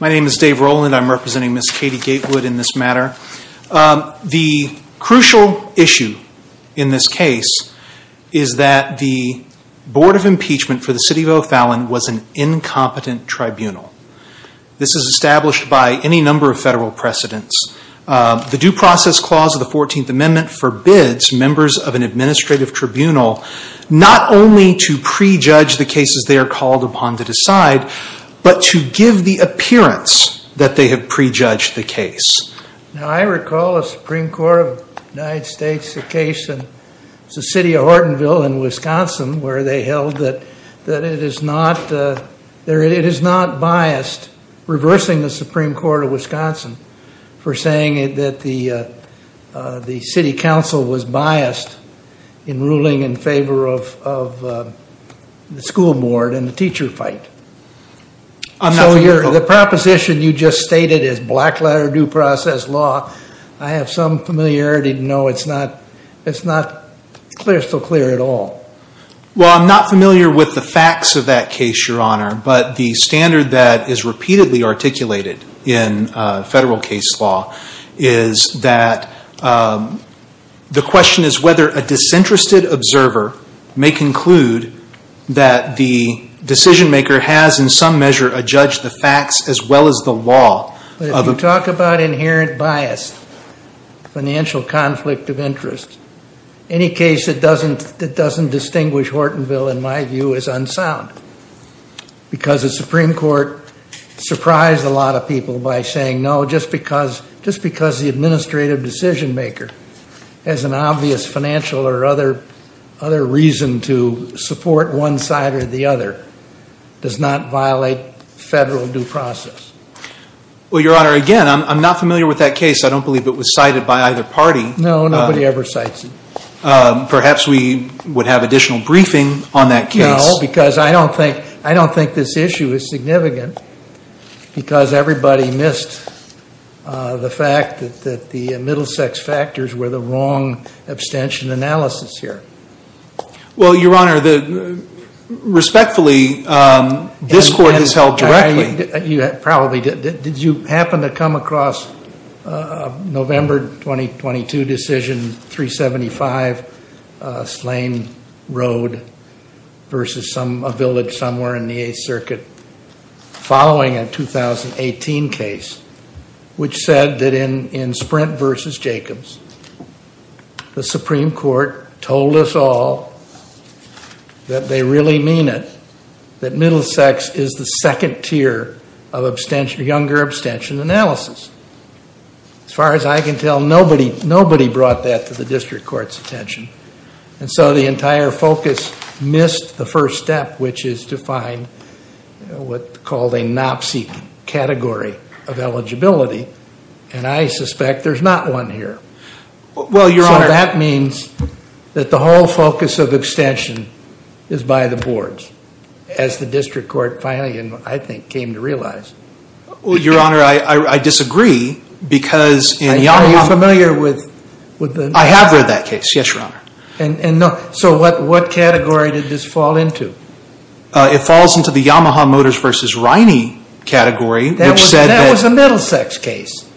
My name is Dave Rowland. I'm representing Ms. Katie Gatewood in this matter. The crucial issue in this case is that the Board of Impeachment for the City of O'Fallon was an incompetent tribunal. This is established by any number of federal precedents. The Due Process Clause of the 14th Amendment forbids members of an administrative tribunal not only to prejudge the cases they are called upon to decide, but to give the appearance that they have prejudged the case. Now I recall the Supreme Court of the United States, the case in the City of Hortonville in Wisconsin, where they held that it is not biased, reversing the Supreme Court of Wisconsin for saying that the City Council was biased in ruling in favor of the Supreme Court of Wisconsin. So the proposition you just stated is black letter due process law, I have some familiarity to know it's not crystal clear at all. Well, I'm not familiar with the facts of that case, Your Honor, but the standard that is repeatedly articulated in federal case law is that the question is whether a disinterested observer may conclude that the decision-maker has in some measure adjudged the facts as well as the law of the... But if you talk about inherent bias, financial conflict of interest, any case that doesn't distinguish Hortonville, in my view, is unsound, because the Supreme Court surprised a lot of people by saying no, just because the administrative decision-maker has an obvious financial or other reason to support one side or the other does not violate federal due process. Well, Your Honor, again, I'm not familiar with that case. I don't believe it was cited by either party. No, nobody ever cites it. Perhaps we would have additional briefing on that case. No, because I don't think this issue is significant, because everybody missed the fact that the Middlesex factors were the wrong abstention analysis here. Well, Your Honor, respectfully, this Court has held directly... You probably did. Did you happen to come across a November 2022 decision, 375, Slane Road versus a village somewhere in the Eighth Circuit, following a 2018 case, which said that in Sprint versus Jacobs, the Supreme Court told us all that they really mean it, that Middlesex is the second tier of younger abstention analysis. As far as I can tell, nobody brought that to the district court's attention, and so the entire focus missed the first step, which is to find what's called a NOPCE category of eligibility, and I suspect there's not one here. Well, Your Honor... That means that the whole focus of abstention is by the boards, as the district court finally, I think, came to realize. Your Honor, I disagree, because in Yamaha... Are you familiar with the... I have read that case, yes, Your Honor. What category did this fall into? It falls into the Yamaha Motors versus Riney category, which said that... That was a Middlesex case.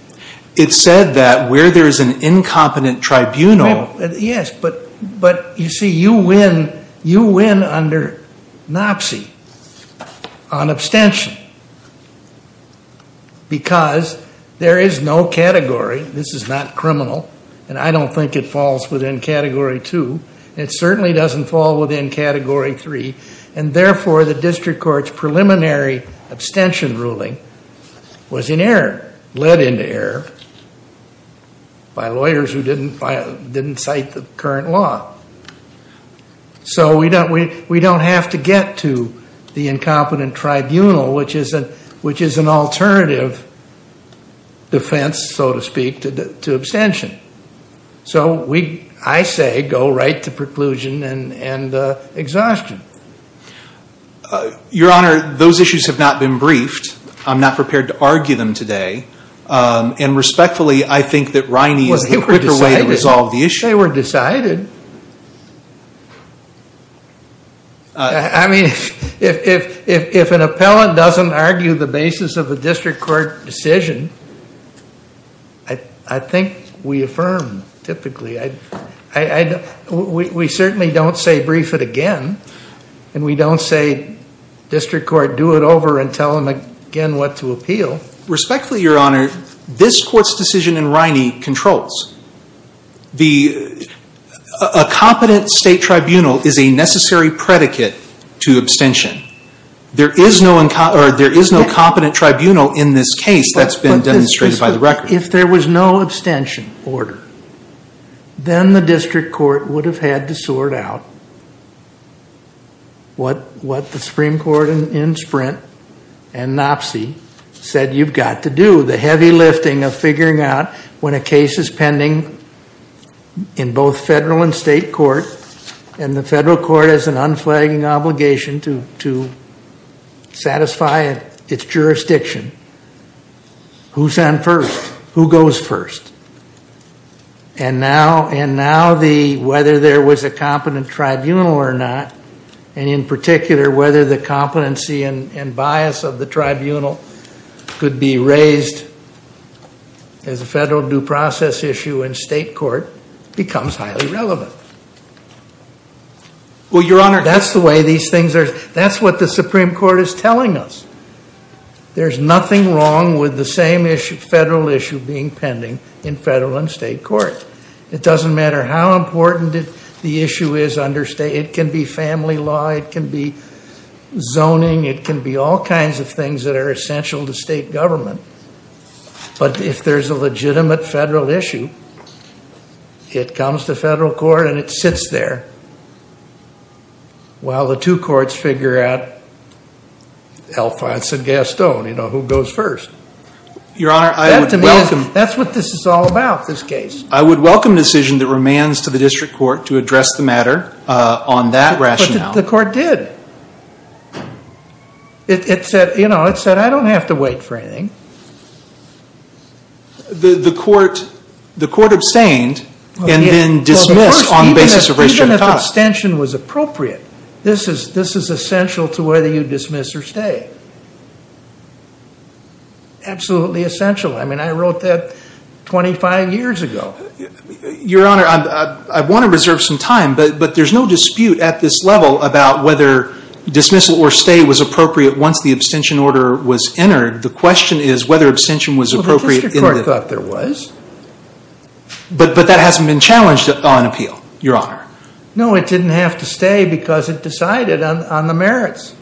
It said that where there's an incompetent tribunal... Yes, but you see, you win under NOPCE on abstention, because there is no category. This is not criminal, and I don't think it falls within category two. It certainly doesn't fall within category three, and therefore, the district court's preliminary abstention ruling was in error, led into error by lawyers who didn't cite the current law. So we don't have to get to the incompetent tribunal, which is an alternative defense, so to speak, to abstention. So we, I say, go right to preclusion and exhaustion. Your Honor, those issues have not been briefed. I'm not prepared to argue them today, and respectfully, I think that Riney is the quicker way to resolve the issue. They were decided. I mean, if an appellant doesn't argue the basis of a district court decision, I think we affirm, typically. We certainly don't say, brief it again, and we don't say, district court, do it over and tell them again what to appeal. Respectfully, Your Honor, this court's decision in Riney controls. A competent state tribunal is a necessary predicate to abstention. There is no competent tribunal in this case that's been demonstrated by the record. If there was no abstention order, then the district court would have had to sort out what the Supreme Court in Sprint and NOPCY said you've got to do, the heavy lifting of figuring out when a case is pending in both federal and state court, and the federal court has an unflagging obligation to satisfy its jurisdiction, who's on first? Who goes first? And now the, whether there was a competent tribunal or not, and in particular, whether the competency and bias of the tribunal could be raised as a federal due process issue in state court, becomes highly relevant. Well, Your Honor, that's the way these things are. That's what the Supreme Court is telling us. There's nothing wrong with the same issue, federal issue, being pending in federal and state court. It doesn't matter how important the issue is under state, it can be family law, it can be zoning, it can be all kinds of things that are essential to state government. But if there's a legitimate federal issue, it comes to federal court and it sits there. Well, the two courts figure out, Alphonse and Gaston, you know, who goes first. That's what this is all about, this case. I would welcome a decision that remains to the district court to address the matter on that rationale. But the court did. It said, you know, it said, I don't have to wait for anything. The court abstained and then dismissed on the basis of race genitalia. Even if abstention was appropriate, this is essential to whether you dismiss or stay. Absolutely essential. I mean, I wrote that 25 years ago. Your Honor, I want to reserve some time, but there's no dispute at this level about whether dismissal or stay was appropriate once the abstention order was entered. The question is whether abstention was appropriate. Well, the district court thought there was. But that hasn't been challenged on appeal, Your Honor. No, it didn't have to stay because it decided on the merits.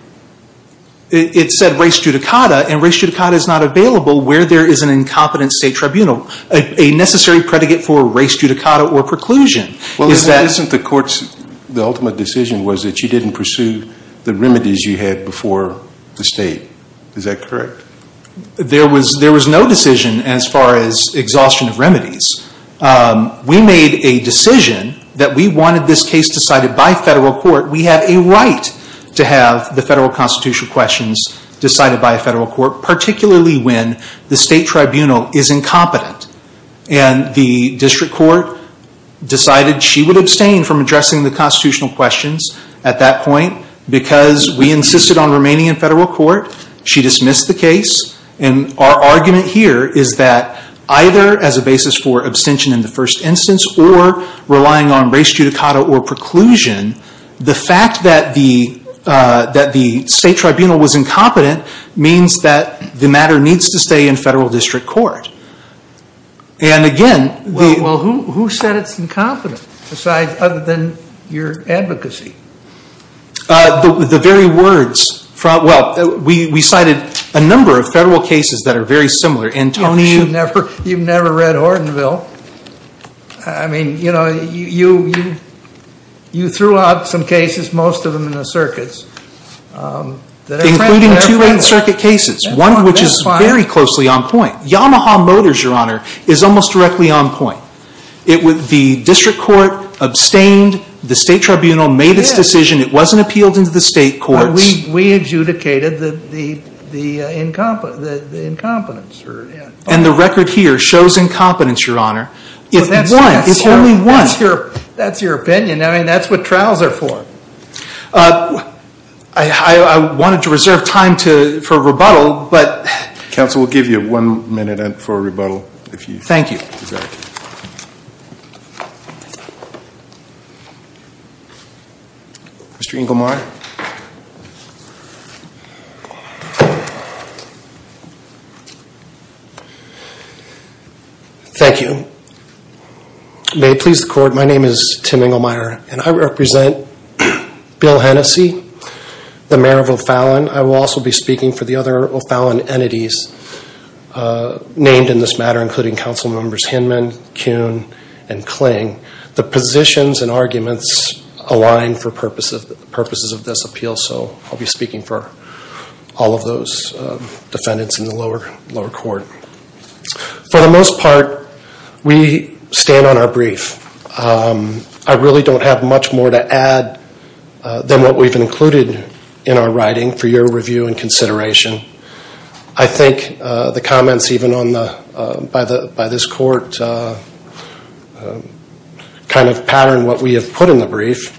It said race judicata, and race judicata is not available where there is an incompetent state tribunal, a necessary predicate for race judicata or preclusion. Well, isn't the court's, the ultimate decision was that you didn't pursue the remedies you had before the state. Is that correct? There was no decision as far as exhaustion of remedies. We made a decision that we wanted this case decided by federal court. We have a right to have the federal constitutional questions decided by a federal court, particularly when the state tribunal is incompetent. And the district court decided she would abstain from addressing the constitutional questions at that point because we insisted on remaining in federal court. She dismissed the case. And our argument here is that either as a basis for abstention in the first instance or relying on race judicata or preclusion, the fact that the state tribunal was incompetent means that the matter needs to stay in federal district court. And again, the... Well, who said it's incompetent besides, other than your advocacy? The very words, well, we cited a number of federal cases that are very similar. Antonio... You've never read Hortonville. I mean, you know, you threw out some cases, most of them in the circuits. Including two in circuit cases, one of which is very closely on point. Yamaha Motors, Your Honor, is almost directly on point. The district court abstained. The state tribunal made its decision. It wasn't appealed into the state courts. We adjudicated the incompetence. And the record here shows incompetence, Your Honor. If one, if only one. That's your opinion. I mean, that's what trials are for. I wanted to reserve time for rebuttal, but... Counsel will give you one minute for rebuttal. Thank you. Mr. Engelmeyer. Thank you. May it please the court, my name is Tim Engelmeyer. And I represent Bill Hennessey, the mayor of O'Fallon. I will also be speaking for the other O'Fallon entities named in this matter, including council members Hinman, Kuhn, and Kling. The positions and arguments align for purposes of this appeal, so I'll be speaking for all of those defendants in the lower court. For the most part, we stand on our brief. I really don't have much more to add than what we've included in our writing for your review and consideration. I think the comments even by this court kind of pattern what we have put in the brief.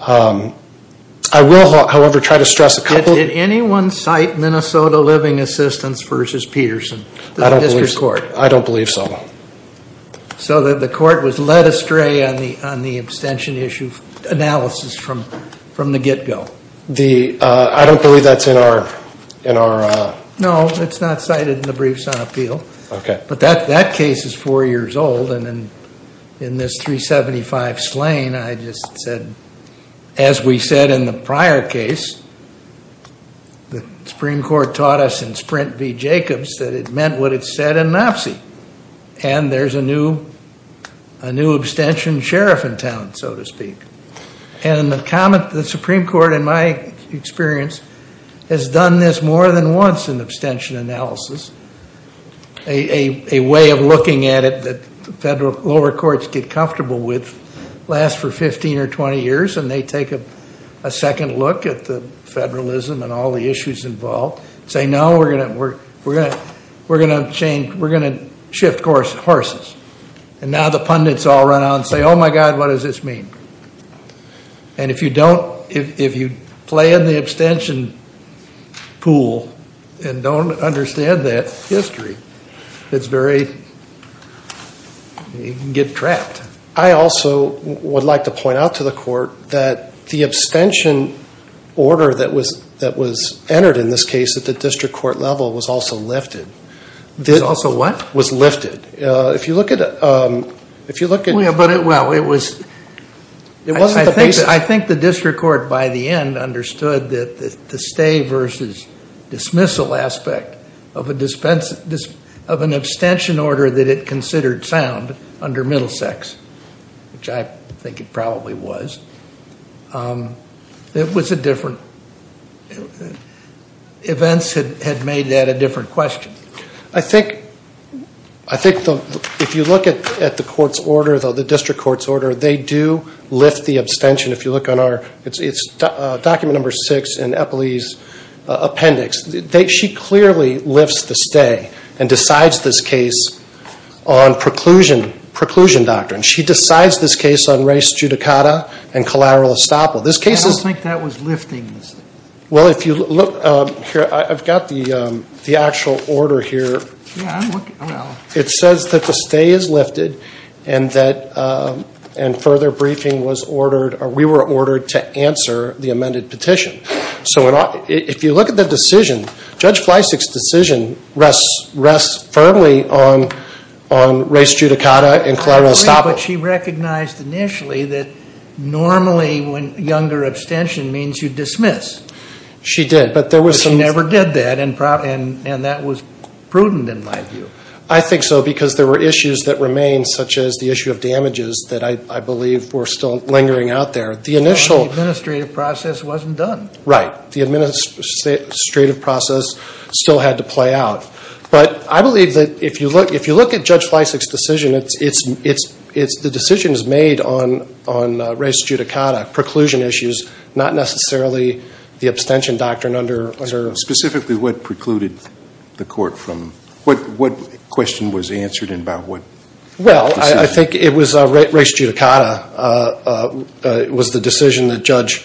I will, however, try to stress a couple... Did anyone cite Minnesota Living Assistance versus Peterson? I don't believe so. So the court was led astray on the abstention issue analysis from the get-go. I don't believe that's in our... No, it's not cited in the briefs on appeal. But that case is four years old, and in this 375 slain, I just said, as we said in the prior case, the Supreme Court taught us in Sprint v. Jacobs that it meant what it said in an op-see. And there's a new abstention sheriff in town, so to speak. And the Supreme Court, in my experience, has done this more than once in abstention analysis. A way of looking at it that the lower courts get comfortable with lasts for 15 or 20 years, and they take a second look at the federalism and all the issues involved, and say, no, we're going to shift horses. And now the pundits all run out and say, oh, my God, what does this mean? And if you play in the abstention pool and don't understand that history, it's very... you can get trapped. I also would like to point out to the court that the abstention order that was entered in this case at the district court level was also lifted. Was also what? Was lifted. If you look at... Well, it was... I think the district court, by the end, understood that the stay v. dismissal aspect of an abstention order that it considered sound under Middlesex, which I think it probably was. It was a different... Events had made that a different question. I think if you look at the court's order, the district court's order, they do lift the abstention. If you look on our... it's document number six in Eppley's appendix. She clearly lifts the stay and decides this case on preclusion doctrine. She decides this case on res judicata and collateral estoppel. This case is... I don't think that was lifting. Well, if you look here, I've got the actual order here. Yeah, I'm looking. It says that the stay is lifted and that further briefing was ordered, or we were ordered to answer the amended petition. So if you look at the decision, Judge Fleisig's decision rests firmly on res judicata and collateral estoppel. I agree, but she recognized initially that normally younger abstention means you dismiss. She did, but there was some... But she never did that, and that was prudent in my view. I think so, because there were issues that remained, such as the issue of damages, that I believe were still lingering out there. Well, the administrative process wasn't done. Right. The administrative process still had to play out. But I believe that if you look at Judge Fleisig's decision, the decision is made on res judicata, preclusion issues, not necessarily the abstention doctrine under... Specifically what precluded the court from... what question was answered and about what decision? Well, I think it was res judicata was the decision that Judge...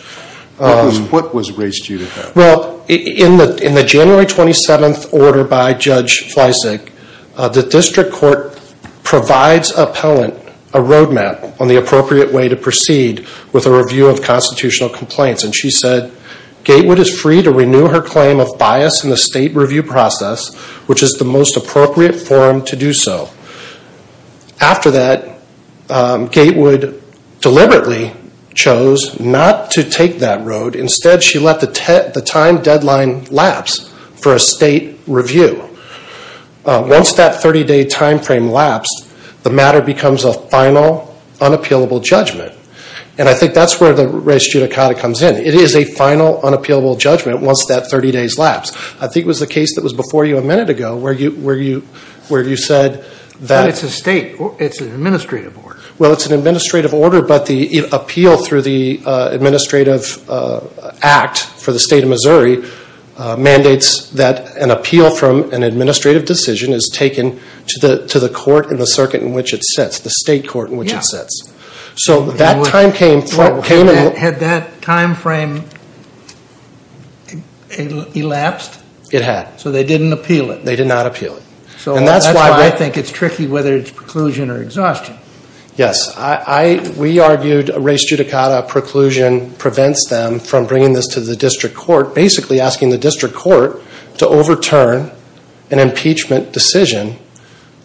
What was res judicata? Well, in the January 27th order by Judge Fleisig, the district court provides appellant a roadmap on the appropriate way to proceed with a review of constitutional complaints. And she said, Gatewood is free to renew her claim of bias in the state review process, which is the most appropriate form to do so. After that, Gatewood deliberately chose not to take that road. Instead, she let the time deadline lapse for a state review. Once that 30-day time frame lapsed, the matter becomes a final, unappealable judgment. And I think that's where the res judicata comes in. It is a final, unappealable judgment once that 30 days lapsed. I think it was the case that was before you a minute ago where you said that... But it's a state. It's an administrative order. Well, it's an administrative order, but the appeal through the administrative act for the state of Missouri mandates that an appeal from an administrative decision is taken to the court in the circuit in which it sits, the state court in which it sits. So that time came... Had that time frame elapsed? It had. So they didn't appeal it. They did not appeal it. So that's why I think it's tricky whether it's preclusion or exhaustion. Yes. We argued res judicata preclusion prevents them from bringing this to the district court, basically asking the district court to overturn an impeachment decision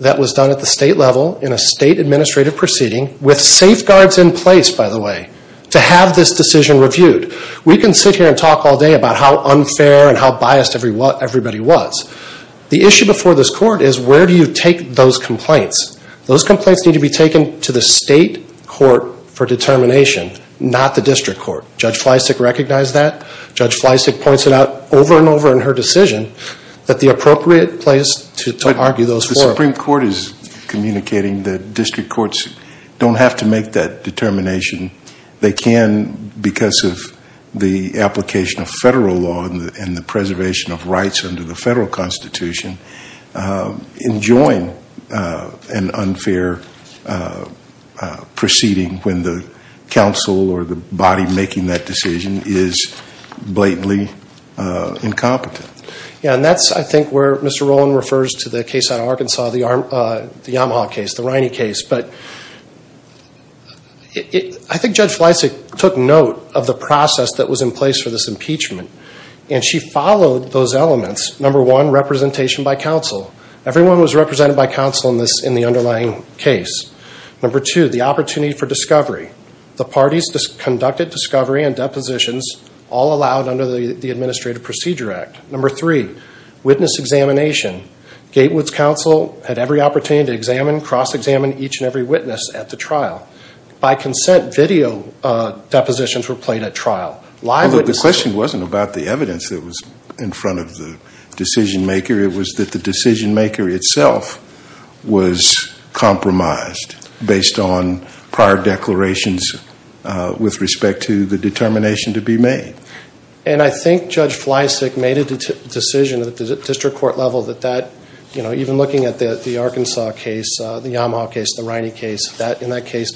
that was done at the state level in a state administrative proceeding with safeguards in place, by the way, to have this decision reviewed. We can sit here and talk all day about how unfair and how biased everybody was. The issue before this court is where do you take those complaints? Those complaints need to be taken to the state court for determination, not the district court. Judge Fleisig recognized that. Judge Fleisig points it out over and over in her decision that the appropriate place to argue those for... The Supreme Court is communicating that district courts don't have to make that determination. They can because of the application of federal law and the preservation of rights under the federal constitution, enjoin an unfair proceeding when the counsel or the body making that decision is blatantly incompetent. And that's, I think, where Mr. Rowland refers to the case out of Arkansas, the Yamaha case, the Riney case. But I think Judge Fleisig took note of the process that was in place for this impeachment and she followed those elements. Number one, representation by counsel. Everyone was represented by counsel in the underlying case. Number two, the opportunity for discovery. The parties conducted discovery and depositions all allowed under the Administrative Procedure Act. Number three, witness examination. Gatewood's counsel had every opportunity to examine, cross-examine each and every witness at the trial. By consent, video depositions were played at trial. The question wasn't about the evidence that was in front of the decision-maker. It was that the decision-maker itself was compromised based on prior declarations with respect to the determination to be made. And I think Judge Fleisig made a decision at the district court level that that, even looking at the Arkansas case, the Yamaha case, the Riney case, that in that case,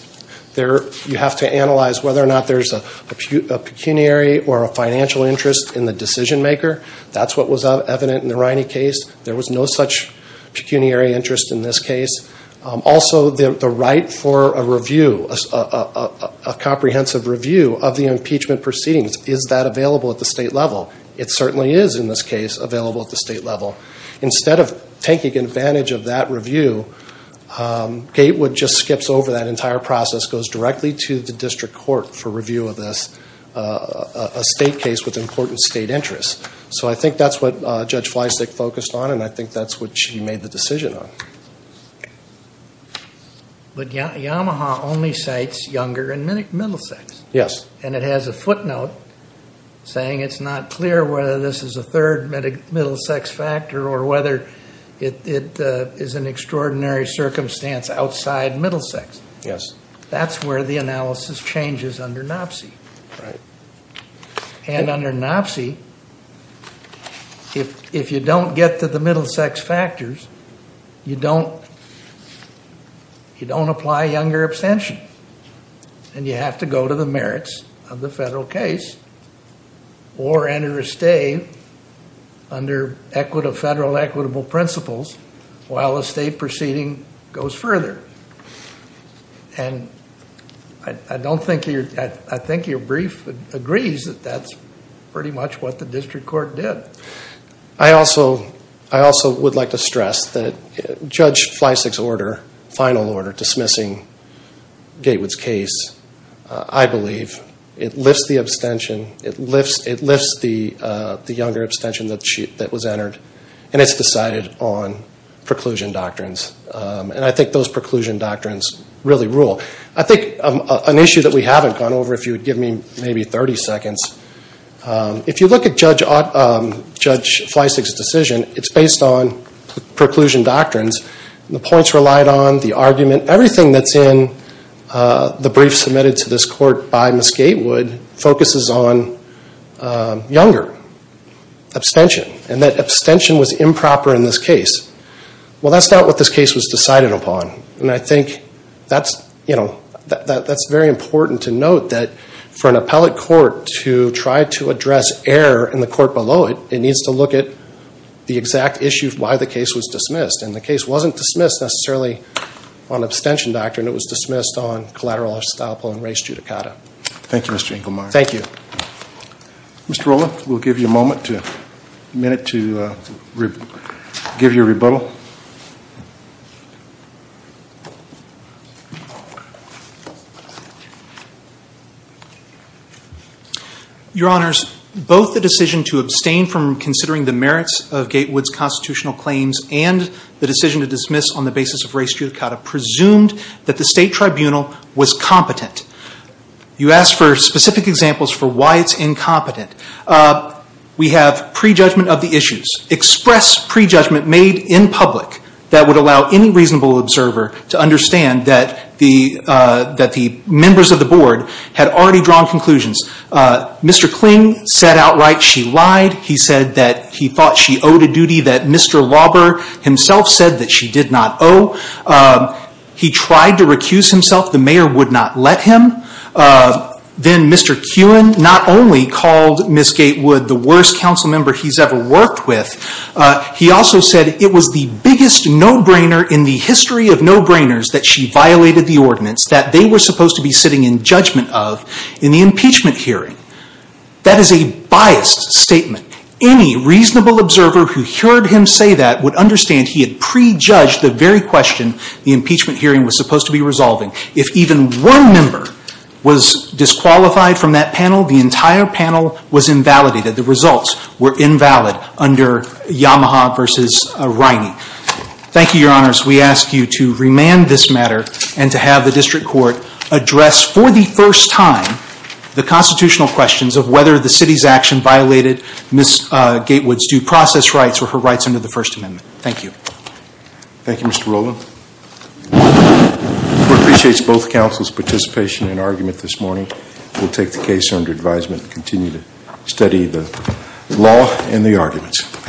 you have to analyze whether or not there's a pecuniary or a financial interest in the decision-maker. That's what was evident in the Riney case. There was no such pecuniary interest in this case. Also, the right for a review, a comprehensive review of the impeachment proceedings. Is that available at the state level? It certainly is, in this case, available at the state level. Instead of taking advantage of that review, Gatewood just skips over that entire process, goes directly to the district court for review of this, a state case with important state interests. So I think that's what Judge Fleisig focused on, and I think that's what she made the decision on. But Yamaha only cites younger and middle sex. Yes. And it has a footnote saying it's not clear whether this is a third middle sex factor or whether it is an extraordinary circumstance outside middle sex. Yes. That's where the analysis changes under NOPSI. Right. And under NOPSI, if you don't get to the middle sex factors, you don't apply younger abstention, and you have to go to the merits of the federal case or enter a stay under federal equitable principles while a state proceeding goes further. And I think your brief agrees that that's pretty much what the district court did. I also would like to stress that Judge Fleisig's order, final order dismissing Gatewood's case, I believe it lifts the abstention, it lifts the younger abstention that was entered, and it's decided on preclusion doctrines. And I think those preclusion doctrines really rule. I think an issue that we haven't gone over, if you would give me maybe 30 seconds, if you look at Judge Fleisig's decision, it's based on preclusion doctrines. The points relied on, the argument, everything that's in the brief submitted to this court by Ms. Gatewood focuses on younger abstention, and that abstention was improper in this case. Well, that's not what this case was decided upon, and I think that's very important to note that for an appellate court to try to address error in the court below it, it needs to look at the exact issues why the case was dismissed. And the case wasn't dismissed necessarily on abstention doctrine, it was dismissed on collateral estoppel and res judicata. Thank you, Mr. Inglemeyer. Thank you. Mr. Rola, we'll give you a minute to give your rebuttal. Your Honors, both the decision to abstain from considering the merits of Gatewood's constitutional claims and the decision to dismiss on the basis of res judicata presumed that the State Tribunal was competent. You asked for specific examples for why it's incompetent. We have prejudgment of the issues. Express prejudgment made in public that would allow any reasonable observer to understand that the members of the Board had already drawn conclusions. Mr. Kling said outright she lied. He said that he thought she owed a duty that Mr. Lauber himself said that she did not owe. He tried to recuse himself. The mayor would not let him. Then Mr. Kuhn not only called Ms. Gatewood the worst council member he's ever worked with, he also said it was the biggest no-brainer in the history of no-brainers that she violated the ordinance that they were supposed to be sitting in judgment of in the impeachment hearing. That is a biased statement. Any reasonable observer who heard him say that would understand he had prejudged the very question the impeachment hearing was supposed to be resolving. If even one member was disqualified from that panel, the entire panel was invalidated. The results were invalid under Yamaha v. Riney. Thank you, Your Honors. We ask you to remand this matter and to have the district court address for the first time the constitutional questions of whether the city's action violated Ms. Gatewood's due process rights or her rights under the First Amendment. Thank you. Thank you, Mr. Rowland. We appreciate both counsel's participation and argument this morning. We'll take the case under advisement and continue to study the law and the arguments.